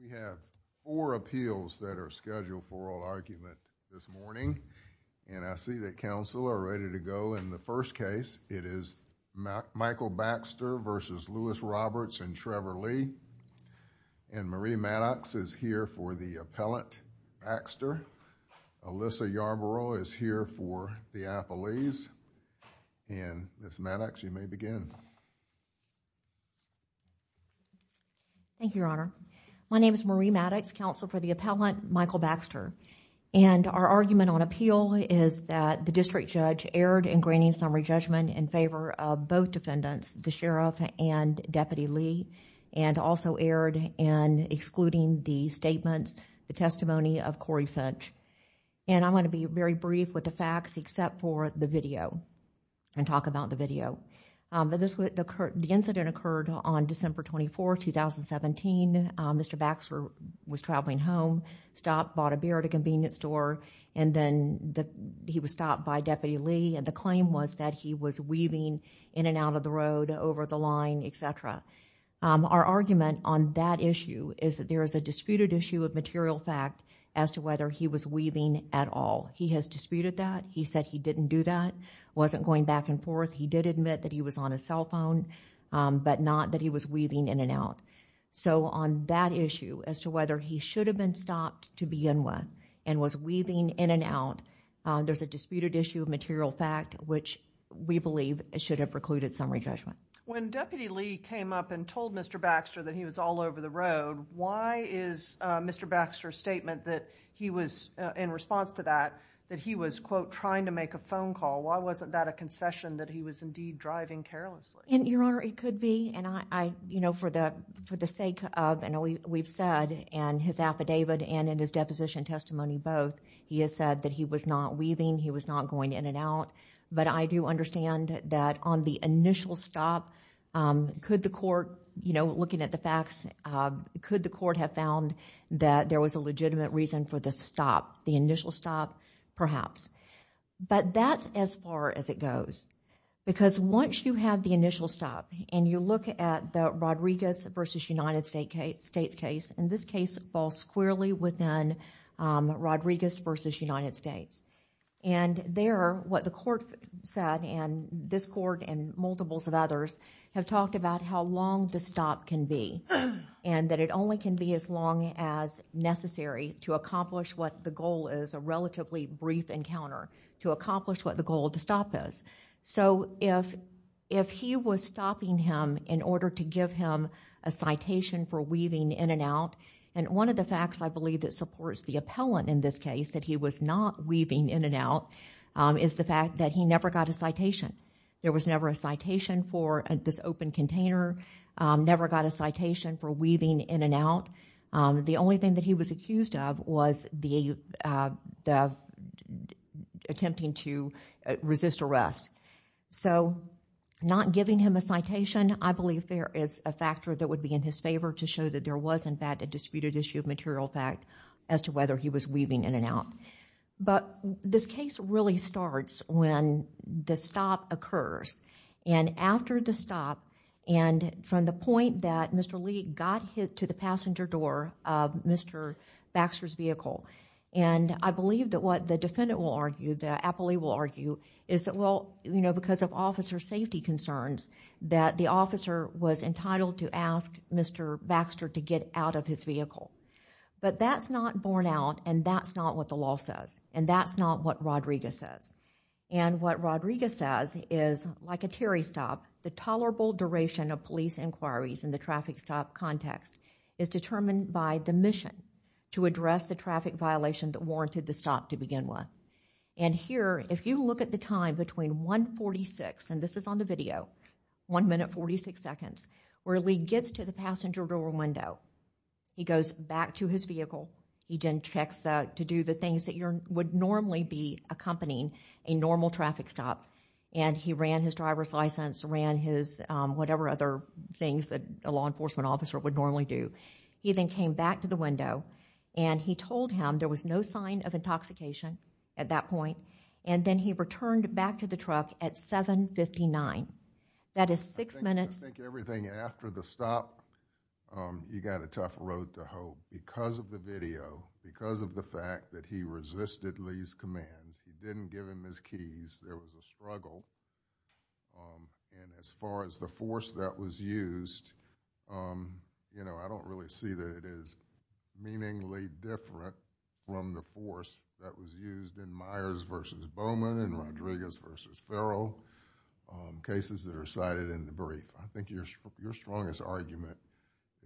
We have four appeals that are scheduled for oral argument this morning, and I see that counsel are ready to go in the first case. It is Michael Baxter v. Louis Roberts and Trevor Lee, and Marie Maddox is here for the hearing. Ms. Maddox, you may begin. Marie Maddox, Counsel for the Appellant Thank you, Your Honor. My name is Marie Maddox, Counsel for the Appellant, Michael Baxter, and our argument on appeal is that the district judge erred in granting summary judgment in favor of both defendants, the sheriff and Deputy Lee, and also erred in excluding the statements, the testimony of Corey Finch, and I'm going to be very brief with the facts except for the The incident occurred on December 24, 2017. Mr. Baxter was traveling home, stopped, bought a beer at a convenience store, and then he was stopped by Deputy Lee, and the claim was that he was weaving in and out of the road, over the line, et cetera. Our argument on that issue is that there is a disputed issue of material fact as to whether he was weaving at all. He has disputed that. He said he didn't do that, wasn't going back and forth. He did admit that he was on his cell phone, but not that he was weaving in and out. So on that issue, as to whether he should have been stopped to begin with and was weaving in and out, there's a disputed issue of material fact, which we believe should have precluded summary judgment. When Deputy Lee came up and told Mr. Baxter that he was all over the road, why is Mr. Baxter, in response to that, that he was, quote, trying to make a phone call, why wasn't that a concession that he was indeed driving carelessly? Your Honor, it could be, and I, you know, for the sake of, and we've said in his affidavit and in his deposition testimony both, he has said that he was not weaving, he was not going in and out, but I do understand that on the initial stop, could the court, you know, looking at the facts, could the court have found that there was a legitimate reason for the stop, the initial stop, perhaps? But that's as far as it goes, because once you have the initial stop and you look at the Rodriguez v. United States case, and this case falls squarely within Rodriguez v. United States, and there, what the court said, and this court and multiples of others have talked about how long the stop can be, and that it only can be as long as necessary to accomplish what the goal is, a relatively brief encounter, to accomplish what the goal of the stop is. So if he was stopping him in order to give him a citation for weaving in and out, and one of the facts I believe that supports the appellant in this case, that he was not weaving in and out, is the fact that he never got a citation. There was never a citation for this open container, never got a citation for weaving in and out. The only thing that he was accused of was the attempting to resist arrest. So not giving him a citation, I believe there is a factor that would be in his favor to show that there was, in fact, a disputed issue of material fact as to whether he was weaving in and out. But this case really starts when the stop occurs. And after the stop, and from the point that Mr. Lee got hit to the passenger door of Mr. Baxter's vehicle, and I believe that what the defendant will argue, the appellee will argue, is that well, you know, because of officer safety concerns, that the officer was entitled to ask Mr. Baxter to get out of his vehicle. But that's not borne out, and that's not what the law says, and that's not what Rodriguez says. And what Rodriguez says is, like a Terry stop, the tolerable duration of police inquiries in the traffic stop context is determined by the mission to address the traffic violation that warranted the stop to begin with. And here, if you look at the time between 1.46, and this is on the video, 1 minute 46 seconds, where Lee gets to the passenger door window, he goes back to his vehicle, he then checks to do the things that you would normally be accompanying a normal traffic stop. And he ran his driver's license, ran his whatever other things that a law enforcement officer would normally do. He then came back to the window, and he told him there was no sign of intoxication at that point, and then he returned back to the truck at 7.59. That is six minutes. I think everything after the stop, you got a tough road to hoe. Because of the video, because of the fact that he resisted Lee's commands, he didn't give him his keys, there was a struggle. And as far as the force that was used, you know, I don't really see that it is meaningly different from the force that was used in Myers v. Bowman and Rodriguez v. Ferrell, cases that are cited in the brief. I think your strongest argument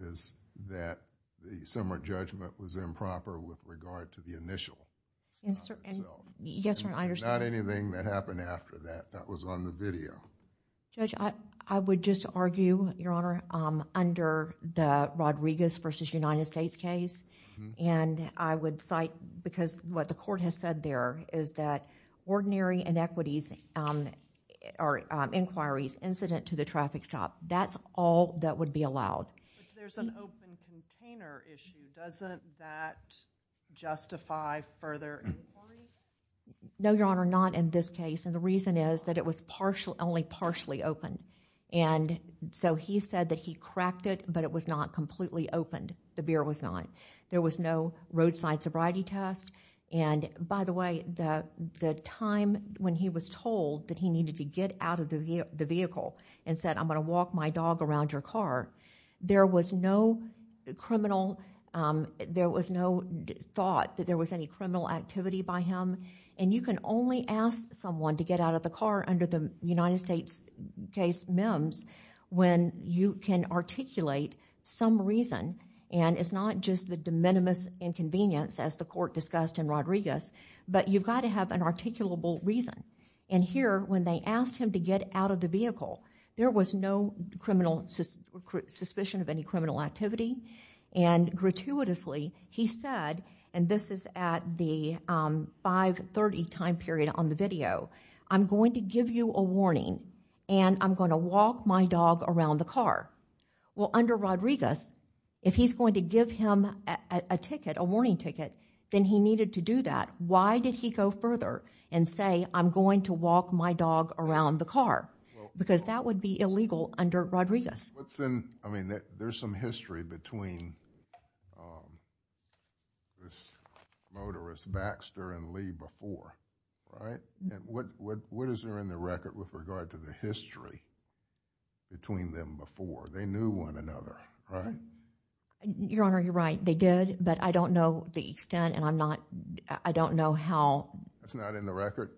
is that the similar judgment was improper with regard to the initial stop itself. Not anything that happened after that. That was on the video. Yes, Your Honor, I understand. Judge, I would just argue, Your Honor, under the Rodriguez v. United States case, and I would cite, because what the court has said there is that ordinary inequities or inquiries incident to the traffic stop, that's all that would be allowed. But there's an open container issue, doesn't that justify further inquiries? No, Your Honor, not in this case, and the reason is that it was only partially opened. And so he said that he cracked it, but it was not completely opened. The beer was not. There was no roadside sobriety test. And, by the way, the time when he was told that he needed to get out of the vehicle and said, I'm going to walk my dog around your car, there was no criminal, there was no thought that there was any criminal activity by him. And you can only ask someone to get out of the car under the United States case MEMS when you can articulate some reason, and it's not just the de minimis inconvenience, as the court discussed in Rodriguez, but you've got to have an articulable reason. And here, when they asked him to get out of the vehicle, there was no criminal suspicion of any criminal activity, and gratuitously, he said, and this is at the 5.30 time period on the video, I'm going to give you a warning, and I'm going to walk my dog around the car. Well, under Rodriguez, if he's going to give him a ticket, a warning ticket, then he needed to do that. Why did he go further and say, I'm going to walk my dog around the car? Because that would be illegal under Rodriguez. What's in, I mean, there's some history between this motorist, Baxter and Lee, before, right? What is there in the record with regard to the history between them before? They knew one another, right? Your Honor, you're right. They did, but I don't know the extent, and I'm not, I don't know how. That's not in the record?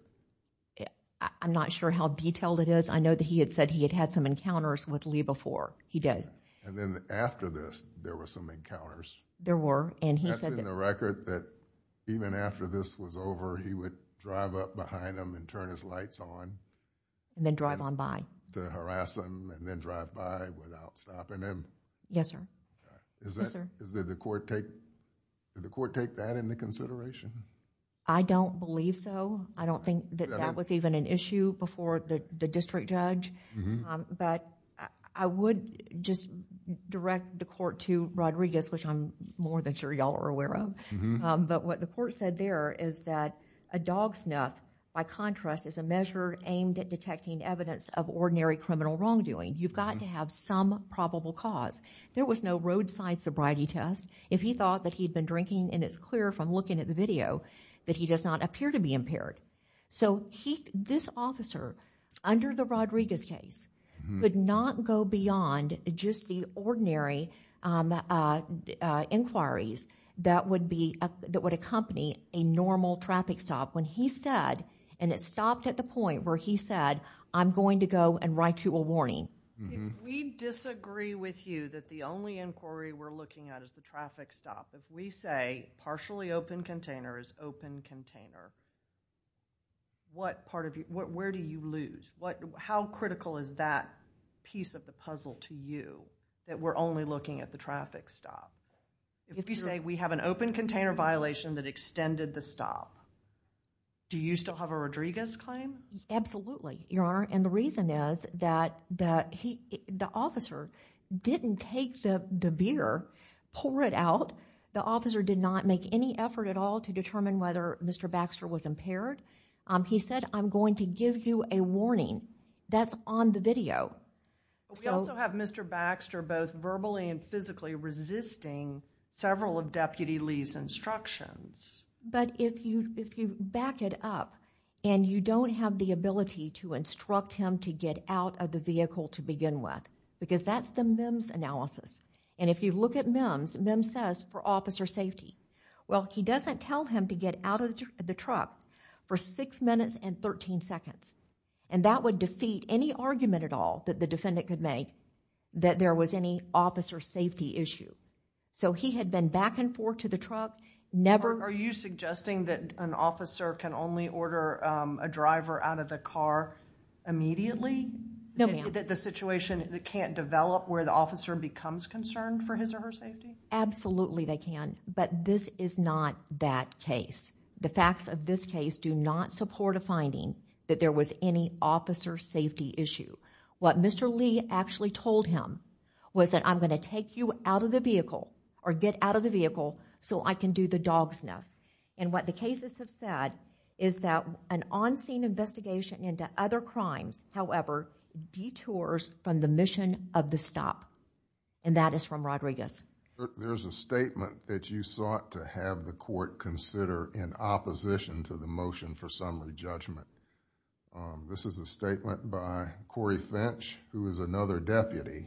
I'm not sure how detailed it is. I know that he had said he had had some encounters with Lee before. He did. And then after this, there were some encounters. There were, and he said that. There's a record that even after this was over, he would drive up behind him and turn his lights on. And then drive on by. To harass him, and then drive by without stopping him. Yes, sir. Okay. Yes, sir. Did the court take that into consideration? I don't believe so. I don't think that that was even an issue before the district judge, but I would just direct the court to Rodriguez, which I'm more than sure y'all are aware of. But what the court said there is that a dog snuff, by contrast, is a measure aimed at detecting evidence of ordinary criminal wrongdoing. You've got to have some probable cause. There was no roadside sobriety test. If he thought that he'd been drinking, and it's clear from looking at the video, that he does not appear to be impaired. So, this officer, under the Rodriguez case, could not go beyond just the ordinary inquiries that would accompany a normal traffic stop. When he said, and it stopped at the point where he said, I'm going to go and write you a warning. If we disagree with you that the only inquiry we're looking at is the traffic stop, if we say partially open container is open container, where do you lose? How critical is that piece of the puzzle to you, that we're only looking at the traffic stop? If you say we have an open container violation that extended the stop, do you still have a Rodriguez claim? Absolutely, Your Honor, and the reason is that the officer didn't take the beer, pour it out. The officer did not make any effort at all to determine whether Mr. Baxter was impaired. He said, I'm going to give you a warning. That's on the video. But we also have Mr. Baxter both verbally and physically resisting several of Deputy Lee's instructions. But if you back it up, and you don't have the ability to instruct him to get out of the vehicle to begin with, because that's the MEMS analysis, and if you look at MEMS, MEMS says for officer safety. Well, he doesn't tell him to get out of the truck for 6 minutes and 13 seconds, and that would defeat any argument at all that the defendant could make that there was any officer safety issue. So he had been back and forth to the truck, never... Are you suggesting that an officer can only order a driver out of the car immediately? No, ma'am. That the situation can't develop where the officer becomes concerned for his or her safety? Absolutely, they can. But this is not that case. The facts of this case do not support a finding that there was any officer safety issue. What Mr. Lee actually told him was that I'm going to take you out of the vehicle or get out of the vehicle so I can do the dog sniff. And what the cases have said is that an on-scene investigation into other crimes, however, detours from the mission of the stop. And that is from Rodriguez. There's a statement that you sought to have the court consider in opposition to the motion for summary judgment. This is a statement by Corey Finch, who is another deputy,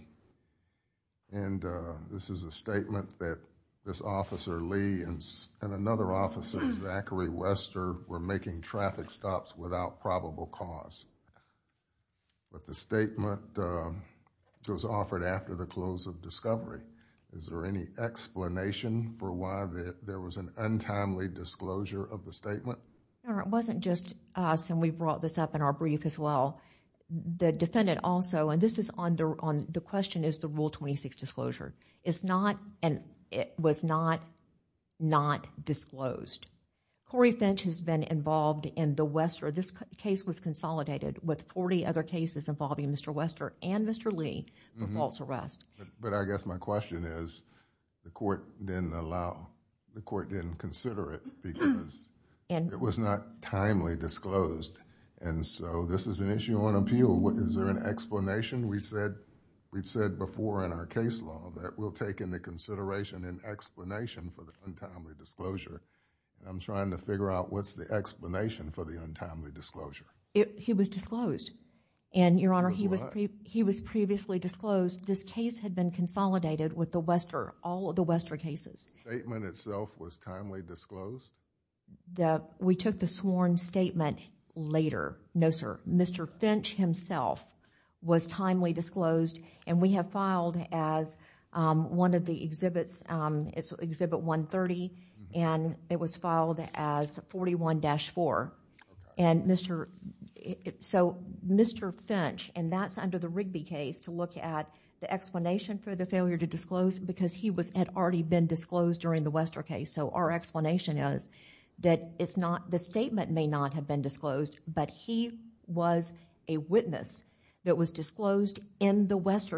and this is a statement that this Officer Lee and another officer, Zachary Wester, were making traffic stops without probable cause. But the statement was offered after the close of discovery. Is there any explanation for why there was an untimely disclosure of the statement? No, it wasn't just us, and we brought this up in our brief as well. The defendant also, and this is under, the question is the Rule 26 disclosure. It's not, and it was not, not disclosed. Corey Finch has been involved in the Wester, this case was consolidated with 40 other cases involving Mr. Wester and Mr. Lee for false arrest. But I guess my question is, the court didn't allow, the court didn't consider it because it was not timely disclosed. And so, this is an issue on appeal. Is there an explanation? We said, we've said before in our case law that we'll take into consideration an explanation for the untimely disclosure. I'm trying to figure out what's the explanation for the untimely disclosure. He was disclosed. And, Your Honor, he was previously disclosed. This case had been consolidated with the Wester, all of the Wester cases. Statement itself was timely disclosed? We took the sworn statement later. No, sir. Mr. Finch himself was timely disclosed. And we have filed as one of the exhibits, Exhibit 130, and it was filed as 41-4. And Mr., so Mr. Finch, and that's under the Rigby case to look at the explanation for the failure to disclose because he was, had already been disclosed during the Wester case. So our explanation is that it's not, the statement may not have been disclosed, but he was a Wester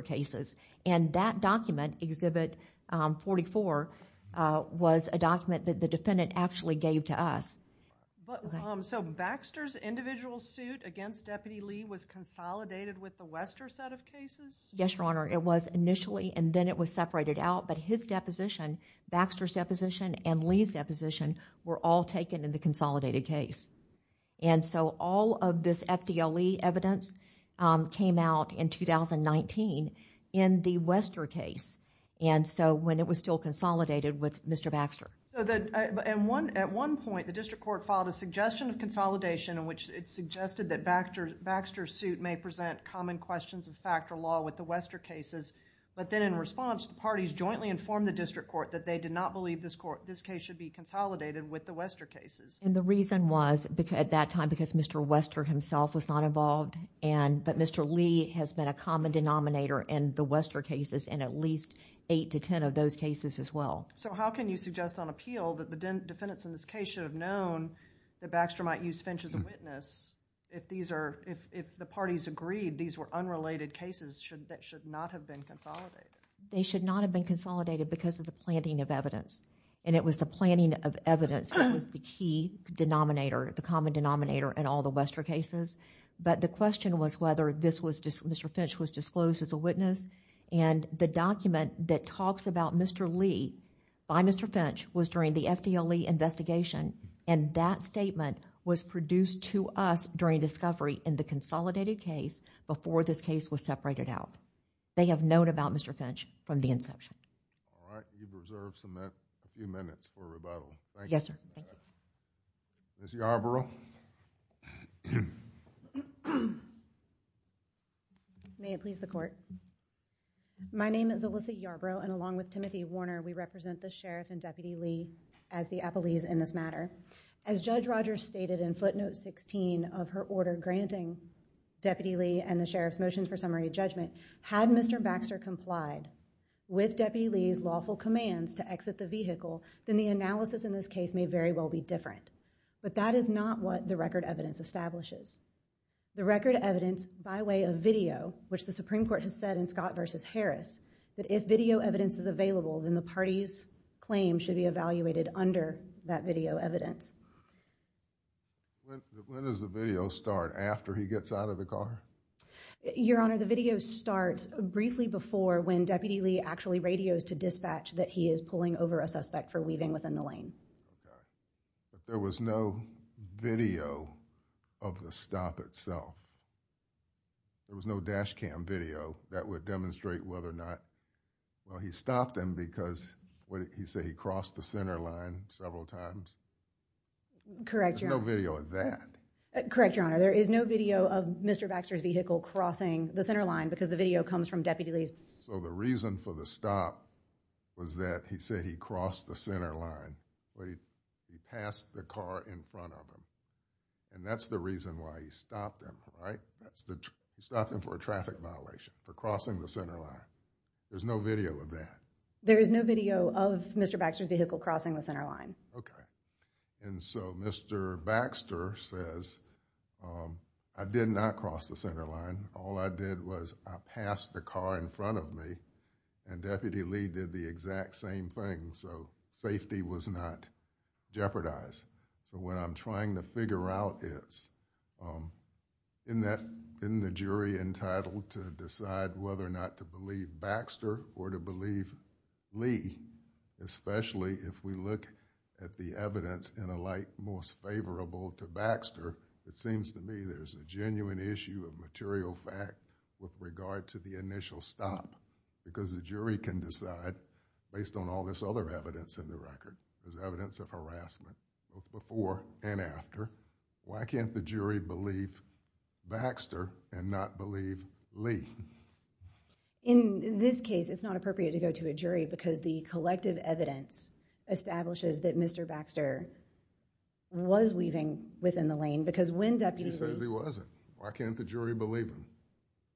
case. And that document, Exhibit 44, was a document that the defendant actually gave to us. So Baxter's individual suit against Deputy Lee was consolidated with the Wester set of cases? Yes, Your Honor. It was initially, and then it was separated out, but his deposition, Baxter's deposition, and Lee's deposition were all taken in the consolidated case. And so all of this FDLE evidence came out in 2019 in the Wester case. And so when it was still consolidated with Mr. Baxter. So the, at one point, the district court filed a suggestion of consolidation in which it suggested that Baxter's suit may present common questions of factor law with the Wester cases. But then in response, the parties jointly informed the district court that they did not believe this court, this case should be consolidated with the Wester cases. And the reason was, at that time, because Mr. Wester himself was not involved, but Mr. Lee has been a common denominator in the Wester cases and at least eight to ten of those cases as well. So how can you suggest on appeal that the defendants in this case should have known that Baxter might use Finch as a witness if these are, if the parties agreed these were unrelated cases that should not have been consolidated? They should not have been consolidated because of the planning of evidence. And it was the planning of evidence that was the key denominator, the common denominator in all the Wester cases. But the question was whether this was, Mr. Finch was disclosed as a witness. And the document that talks about Mr. Lee by Mr. Finch was during the FDLE investigation. And that statement was produced to us during discovery in the consolidated case before this case was separated out. They have known about Mr. Finch from the inception. All right. You've reserved a few minutes for rebuttal. Thank you. Yes, sir. Thank you. Ms. Yarbrough. May it please the Court. My name is Alyssa Yarbrough and along with Timothy Warner, we represent the Sheriff and Deputy Lee as the appellees in this matter. As Judge Rogers stated in footnote 16 of her order granting Deputy Lee and the Sheriff's summary judgment, had Mr. Baxter complied with Deputy Lee's lawful commands to exit the vehicle, then the analysis in this case may very well be different. But that is not what the record evidence establishes. The record evidence by way of video, which the Supreme Court has said in Scott v. Harris, that if video evidence is available, then the party's claim should be evaluated under that video evidence. When does the video start, after he gets out of the car? Your Honor, the video starts briefly before when Deputy Lee actually radios to dispatch that he is pulling over a suspect for weaving within the lane. Okay. But there was no video of the stop itself. There was no dash cam video that would demonstrate whether or not, well, he stopped him because, what did he say, he crossed the center line several times? Correct, Your Honor. There's no video of that. Correct, Your Honor. There is no video of Mr. Baxter's vehicle crossing the center line because the video comes from Deputy Lee's... So the reason for the stop was that he said he crossed the center line, but he passed the car in front of him. And that's the reason why he stopped him, right? That's the... He stopped him for a traffic violation, for crossing the center line. There's no video of that. There is no video of Mr. Baxter's vehicle crossing the center line. Okay. And so, Mr. Baxter says, I did not cross the center line. All I did was I passed the car in front of me and Deputy Lee did the exact same thing. So safety was not jeopardized. So what I'm trying to figure out is, isn't the jury entitled to decide whether or not to believe Baxter or to believe Lee, especially if we look at the evidence in a light most favorable to Baxter, it seems to me there's a genuine issue of material fact with regard to the initial stop. Because the jury can decide, based on all this other evidence in the record, there's evidence of harassment, both before and after, why can't the jury believe Baxter and not believe Lee? In this case, it's not appropriate to go to a jury because the collective evidence establishes that Mr. Baxter was weaving within the lane because when Deputy Lee... He says he wasn't. Why can't the jury believe him?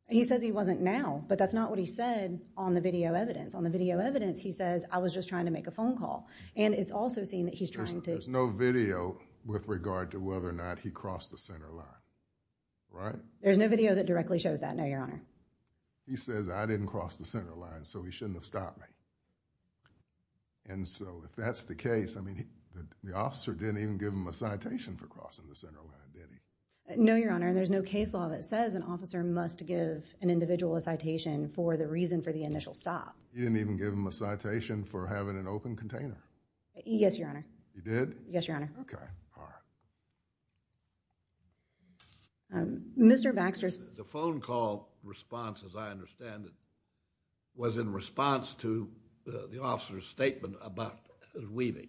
He says he wasn't now, but that's not what he said on the video evidence. On the video evidence, he says, I was just trying to make a phone call. And it's also seen that he's trying to... There's no video with regard to whether or not he crossed the center line, right? No. There's no video that directly shows that, no, Your Honor. He says I didn't cross the center line, so he shouldn't have stopped me. And so if that's the case, I mean, the officer didn't even give him a citation for crossing the center line, did he? No, Your Honor, and there's no case law that says an officer must give an individual a citation for the reason for the initial stop. He didn't even give him a citation for having an open container? He did? Yes, Your Honor. Okay. All right. Mr. Baxter's... The phone call response, as I understand it, was in response to the officer's statement about weaving.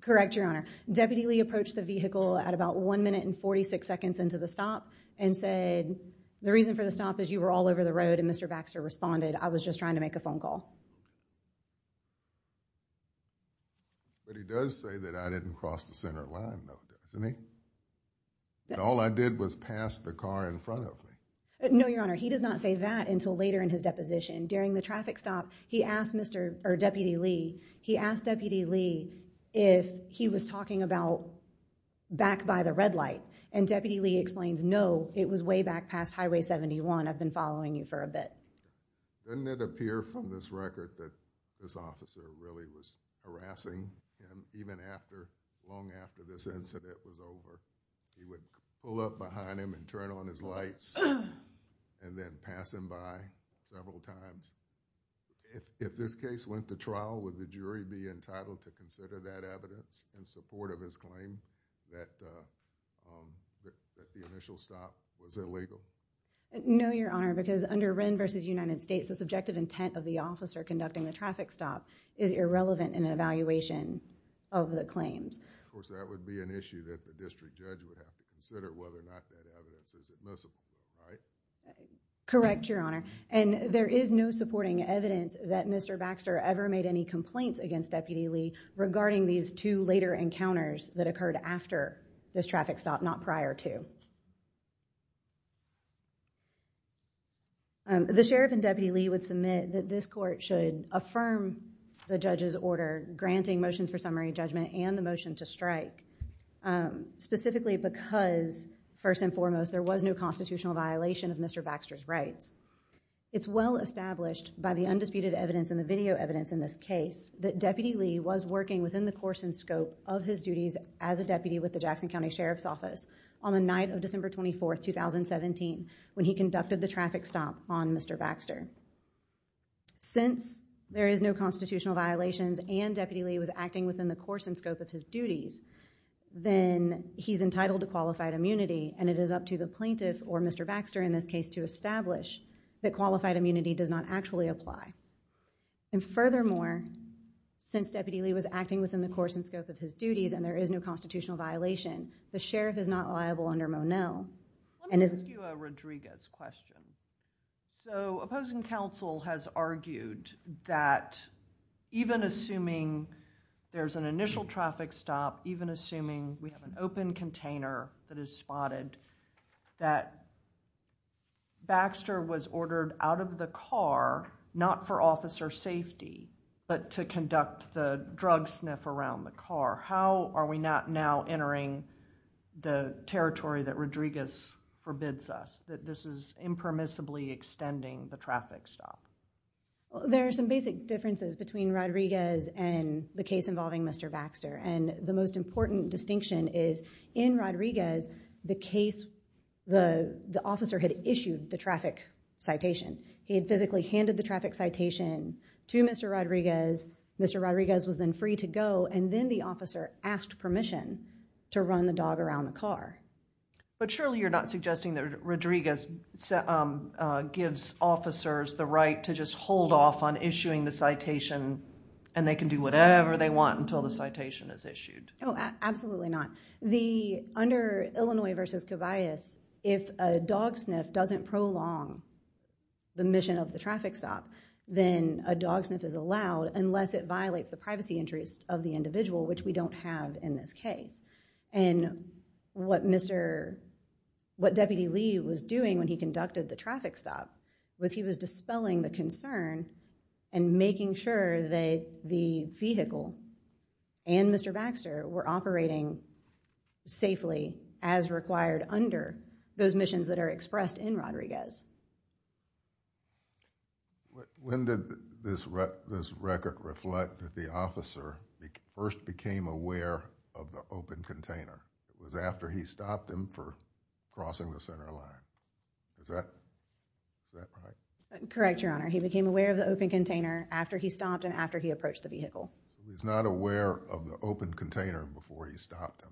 Correct, Your Honor. The deputy approached the vehicle at about 1 minute and 46 seconds into the stop and said, the reason for the stop is you were all over the road, and Mr. Baxter responded, I was just trying to make a phone call. But he does say that I didn't cross the center line, though, doesn't he? That all I did was pass the car in front of me. No, Your Honor, he does not say that until later in his deposition. During the traffic stop, he asked Mr., or Deputy Lee, he asked Deputy Lee if he was talking about back by the red light, and Deputy Lee explains, no, it was way back past Highway 71. I've been following you for a bit. Doesn't it appear from this record that this officer really was harassing him even after, long after this incident was over? He would pull up behind him and turn on his lights and then pass him by several times. If this case went to trial, would the jury be entitled to consider that evidence in support of his claim that the initial stop was illegal? No, Your Honor, because under Wren v. United States, the subjective intent of the officer conducting the traffic stop is irrelevant in an evaluation of the claims. Of course, that would be an issue that the district judge would have to consider, whether or not that evidence is admissible, right? Correct, Your Honor. And there is no supporting evidence that Mr. Baxter ever made any complaints against Deputy Lee regarding these two later encounters that occurred after this traffic stop, not prior to. Thank you. The sheriff and Deputy Lee would submit that this court should affirm the judge's order granting motions for summary judgment and the motion to strike, specifically because, first and foremost, there was no constitutional violation of Mr. Baxter's rights. It's well established by the undisputed evidence and the video evidence in this case that Deputy Lee was working within the course and scope of his duties as a deputy with the Jackson County Sheriff's Office on the night of December 24, 2017, when he conducted the traffic stop on Mr. Baxter. Since there is no constitutional violations and Deputy Lee was acting within the course and scope of his duties, then he's entitled to qualified immunity and it is up to the plaintiff, or Mr. Baxter in this case, to establish that qualified immunity does not actually apply. And furthermore, since Deputy Lee was acting within the course and scope of his duties and there is no constitutional violation, the sheriff is not liable under Monell. Let me ask you a Rodriguez question. So, opposing counsel has argued that even assuming there's an initial traffic stop, even assuming we have an open container that is spotted, that Baxter was ordered out of the car, not for officer safety, but to conduct the drug sniff around the car. How are we not now entering the territory that Rodriguez forbids us, that this is impermissibly extending the traffic stop? Well, there are some basic differences between Rodriguez and the case involving Mr. Baxter. And the most important distinction is in Rodriguez, the case, the officer had issued the traffic citation. He had physically handed the traffic citation to Mr. Rodriguez. Mr. Rodriguez was then free to go and then the officer asked permission to run the dog around the car. But surely you're not suggesting that Rodriguez gives officers the right to just hold off on issuing the citation and they can do whatever they want until the citation is issued. Oh, absolutely not. The, under Illinois v. Covias, if a dog sniff doesn't prolong the mission of the traffic stop, then a dog sniff is allowed unless it violates the privacy interest of the individual, which we don't have in this case. And what Mr., what Deputy Lee was doing when he conducted the traffic stop was he was dispelling the concern and making sure that the vehicle and Mr. Baxter were operating safely as required under those missions that are expressed in Rodriguez. When did this record reflect that the officer first became aware of the open container? It was after he stopped him for crossing the center line. Is that, is that right? Correct, Your Honor. He became aware of the open container after he stopped and after he approached the vehicle. So he was not aware of the open container before he stopped him.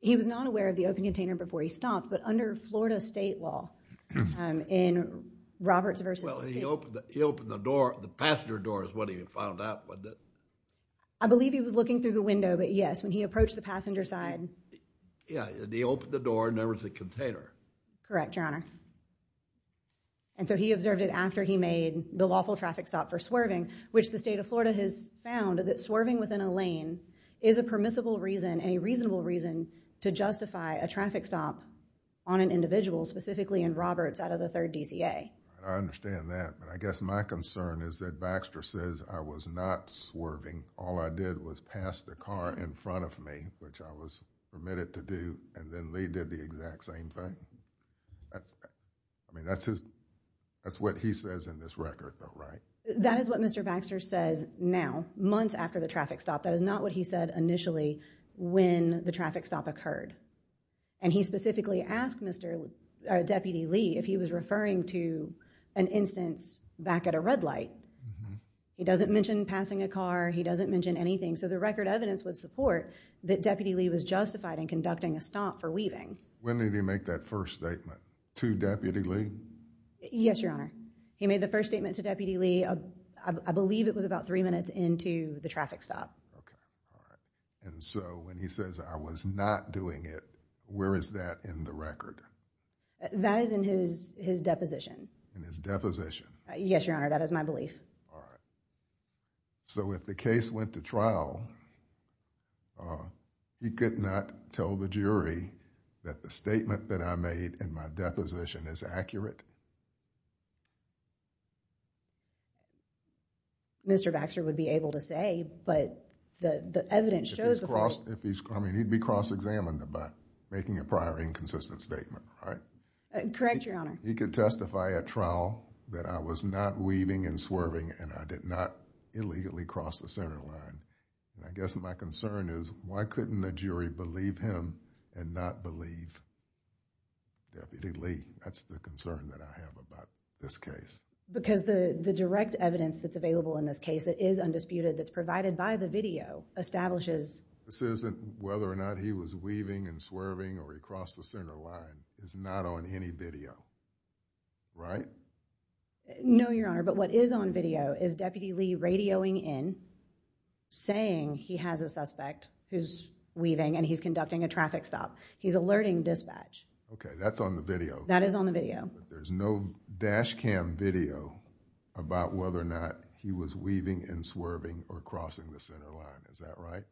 He was not aware of the open container before he stopped, but under Florida state law in Roberts v. State. Well, he opened the door, the passenger door is what he found out, wasn't it? I believe he was looking through the window, but yes, when he approached the passenger side. Yeah, and he opened the door and there was a container. Correct, Your Honor. And so he observed it after he made the lawful traffic stop for swerving, which the state of Florida has found that swerving within a lane is a permissible reason, a reasonable reason, to justify a traffic stop on an individual, specifically in Roberts out of the 3rd DCA. I understand that, but I guess my concern is that Baxter says I was not swerving. All I did was pass the car in front of me, which I was permitted to do, and then Lee did the exact same thing. That's, I mean, that's his, that's what he says in this record though, right? That is what Mr. Baxter says now, months after the traffic stop. That is not what he said initially when the traffic stop occurred. And he specifically asked Mr., or Deputy Lee, if he was referring to an instance back at a red light. He doesn't mention passing a car, he doesn't mention anything, so the record evidence would support that Deputy Lee was justified in conducting a stop for weaving. When did he make that first statement to Deputy Lee? Yes, Your Honor. He made the first statement to Deputy Lee, I believe it was about three minutes into the traffic stop. Okay, all right. And so when he says I was not doing it, where is that in the record? That is in his, his deposition. In his deposition? Yes, Your Honor, that is my belief. All right. So if the case went to trial, he could not tell the jury that the statement that I made in my deposition is accurate? Mr. Baxter would be able to say, but the, the evidence shows... If he's cross, I mean, he'd be cross-examined by making a prior inconsistent statement, right? Correct, Your Honor. He could testify at trial that I was not weaving and swerving and I did not illegally cross the center line. And I guess my concern is why couldn't the jury believe him and not believe Deputy Lee? That's the concern that I have about this case. Because the direct evidence that's available in this case that is undisputed, that's provided by the video, establishes... This isn't whether or not he was weaving and swerving or he crossed the center line. It's not on any video, right? No, Your Honor, but what is on video is Deputy Lee radioing in, saying he has a suspect who's weaving and he's conducting a traffic stop. He's alerting dispatch. Okay, that's on the video. That is on the video. But there's no dash cam video about whether or not he was weaving and swerving or crossing the center line. Is that right?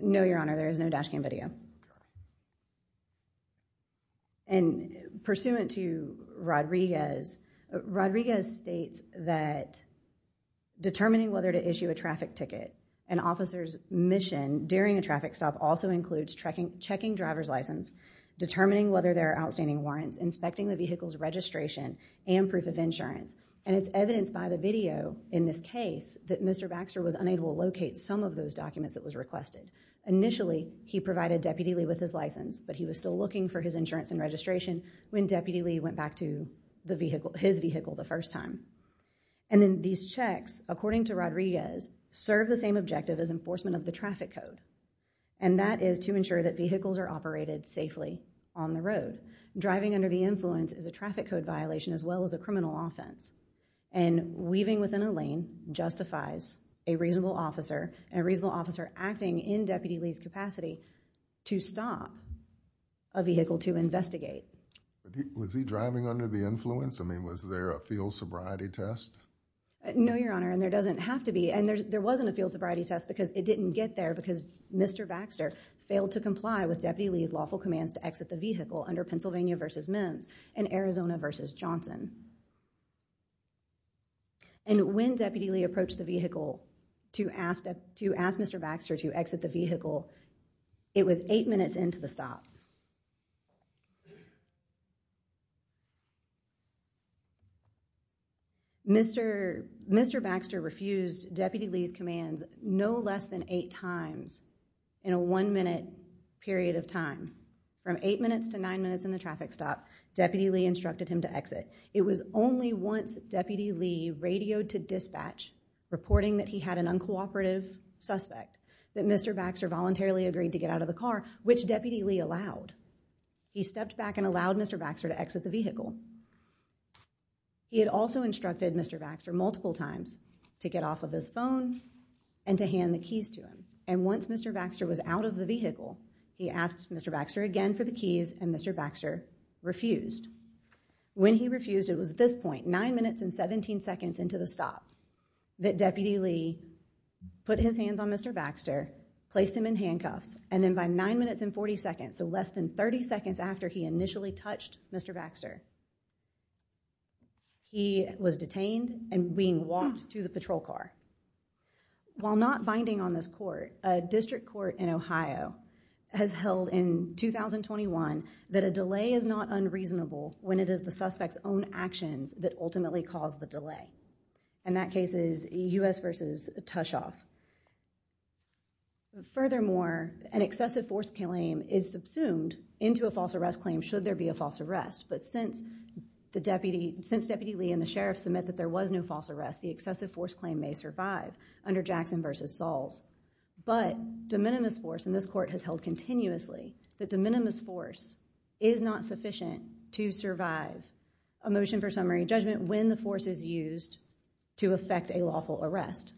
No, Your Honor, there is no dash cam video. Okay. And pursuant to Rodriguez, Rodriguez states that determining whether to issue a traffic ticket, an officer's mission during a traffic stop also includes checking driver's license, determining whether there are outstanding warrants, inspecting the vehicle's registration and proof of insurance. And it's evidenced by the video in this case that Mr. Baxter was unable to locate some of those documents that was requested. Initially, he provided Deputy Lee with his license, but he was still looking for his insurance and registration when Deputy Lee went back to his vehicle the first time. And then these checks, according to Rodriguez, serve the same objective as enforcement of the traffic code. And that is to ensure that vehicles are operated safely on the road. Driving under the influence is a traffic code violation as well as a criminal offense. And weaving within a lane justifies a reasonable officer and a reasonable officer acting in Deputy Lee's capacity to stop a vehicle to investigate. Was he driving under the influence? I mean, was there a field sobriety test? No, Your Honor, and there doesn't have to be. And there wasn't a field sobriety test because it didn't get there because Mr. Baxter failed to comply with Deputy Lee's lawful commands to exit the vehicle under Pennsylvania v. Mims and Arizona v. Johnson. And when Deputy Lee approached the vehicle to ask Mr. Baxter to exit the vehicle, it was eight minutes into the stop. Mr. Baxter refused Deputy Lee's commands no less than eight times in a one-minute period of time. From eight minutes to nine minutes in the traffic stop, Deputy Lee instructed him to exit. It was only once Deputy Lee radioed to dispatch reporting that he had an uncooperative suspect, that Mr. Baxter voluntarily agreed to get out of the car, which Deputy Lee allowed. He stepped back and allowed Mr. Baxter to exit the vehicle. He had also instructed Mr. Baxter multiple times to get off of his phone and to hand the keys to him. And once Mr. Baxter was out of the vehicle, he asked Mr. Baxter again for the keys and Mr. Baxter refused. When he refused, it was at this point, nine minutes and 17 seconds into the stop, that Deputy Lee put his hands on Mr. Baxter, placed him in handcuffs, and then by nine minutes and 40 seconds, so less than 30 seconds after he initially touched Mr. Baxter, he was detained and being walked to the patrol car. While not binding on this court, a district court in Ohio has held in 2021 that a delay is not unreasonable when it is the suspect's own actions that ultimately cause the delay. And that case is U.S. v. Tushoff. Furthermore, an excessive force claim is subsumed into a false arrest claim should there be a false arrest. But since Deputy Lee and the sheriff submit that there was no false arrest, the excessive force claim may survive under Jackson v. Sahls. But de minimis force in this court has held continuously that de minimis force is not sufficient to survive a motion for summary judgment when the force is used to effect a lawful arrest.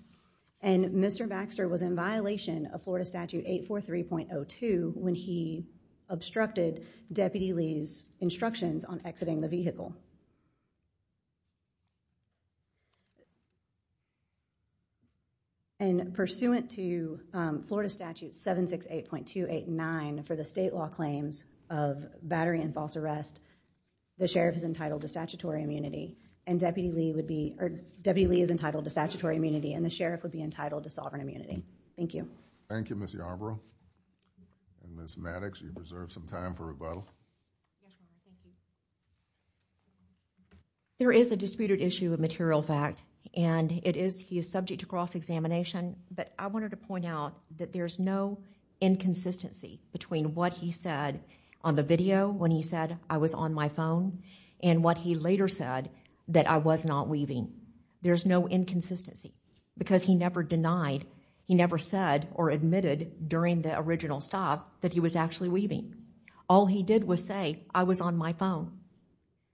And Mr. Baxter was in violation of Florida Statute 843.02 when he obstructed Deputy Lee's instructions on exiting the vehicle. And pursuant to Florida Statute 768.289 for the state law claims of battery and false arrest, the sheriff is entitled to statutory immunity and Deputy Lee would be or Deputy Lee is entitled to statutory immunity and the sheriff would be entitled to sovereign immunity. Thank you. Thank you, Ms. Yarbrough. And Ms. Maddox, you reserve some time for rebuttal. There is a disputed issue of material fact and he is subject to cross-examination. But I wanted to point out that there's no inconsistency between what he said on the video when he said, I was on my phone and what he later said that I was not weaving. There's no inconsistency because he never denied, he never said or admitted during the original stop that he was actually weaving. All he did was say, I was on my phone.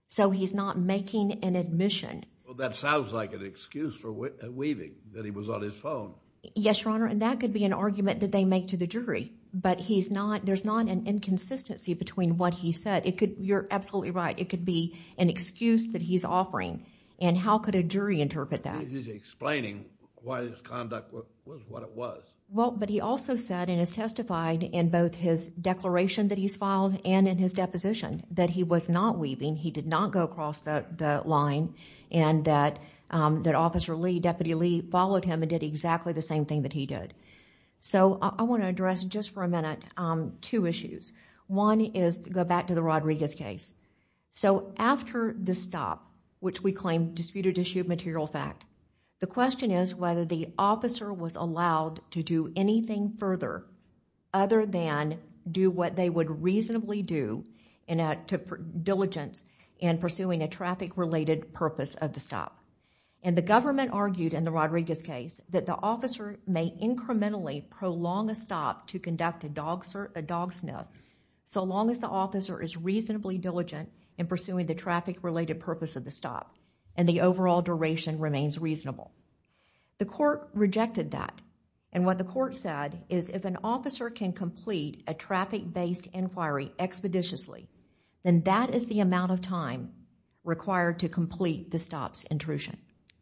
So he's not making an admission. Well, that sounds like an excuse for weaving, that he was on his phone. Yes, Your Honor, and that could be an argument that they make to the jury. But he's not, there's not an inconsistency between what he said. It could, you're absolutely right, it could be an excuse that he's offering. And how could a jury interpret that? He's explaining why his conduct was what it was. Well, but he also said and has testified in both his declaration that he's filed and in his deposition that he was not weaving, he did not go across the line and that Officer Lee, Deputy Lee followed him and did exactly the same thing that he did. So I want to address just for a minute two issues. One is to go back to the Rodriguez case. So after the stop, which we claim disputed issue of material fact, the question is whether the officer was allowed to do anything further other than do what they would reasonably do in diligence in pursuing a traffic-related purpose of the stop. And the government argued in the Rodriguez case that the officer may incrementally prolong a stop to conduct a dog sniff so long as the officer is reasonably diligent in pursuing the traffic-related purpose of the stop. And the overall duration remains reasonable. The court rejected that and what the court said is if an officer can complete a traffic-based inquiry expeditiously then that is the amount of time required to complete the stop's intrusion.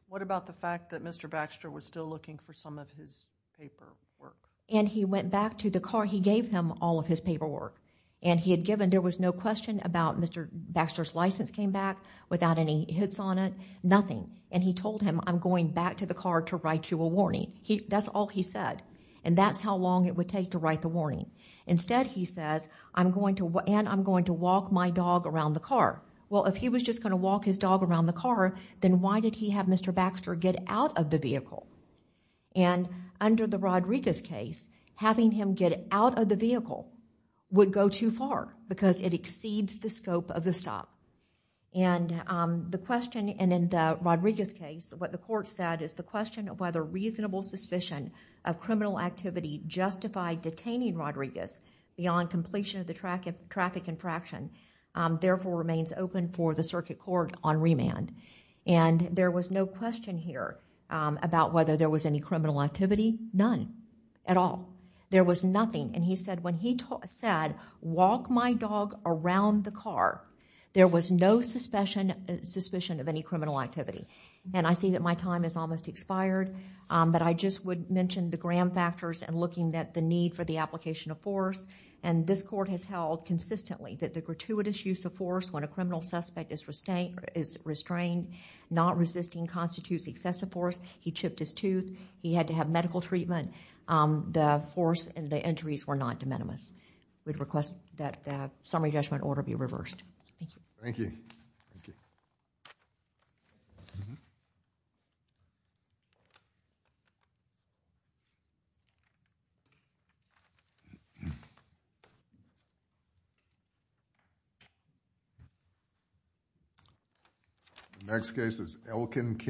What about the fact that Mr. Baxter was still looking for some of his paperwork? And he went back to the car, he gave him all of his paperwork and he had given, there was no question about Mr. Baxter's license came back without any hits on it, nothing. And he told him I'm going back to the car to write you a warning. That's all he said and that's how long it would take to write the warning. Instead he says I'm going to, and I'm going to walk my dog around the car. Well if he was just going to walk his dog around the car then why did he have Mr. Baxter get out of the vehicle? And under the Rodriguez case having him get out of the vehicle would go too far because it exceeds the scope of the stop. And the question and in the Rodriguez case what the court said is the question of whether reasonable suspicion of criminal activity justified detaining beyond completion of the traffic infraction therefore remains open for the circuit court on remand. And there was no question here there was any criminal activity, none, at all. There was nothing and he said when he said walk my dog around the car there was no question about whether there was no suspicion suspicion of any criminal activity. And I see that my time is almost expired but I just would mention the gram factors and looking at the need for the application of force and this court has held consistently that the gratuitous use of force when a criminal suspect is restrained not resisting constitutes excessive force. He chipped his tooth. He had to have medical treatment. The force required was and the entries were not de minimis we request judgment order be reversed. Thank you. Thank you. Next case is Elkin King.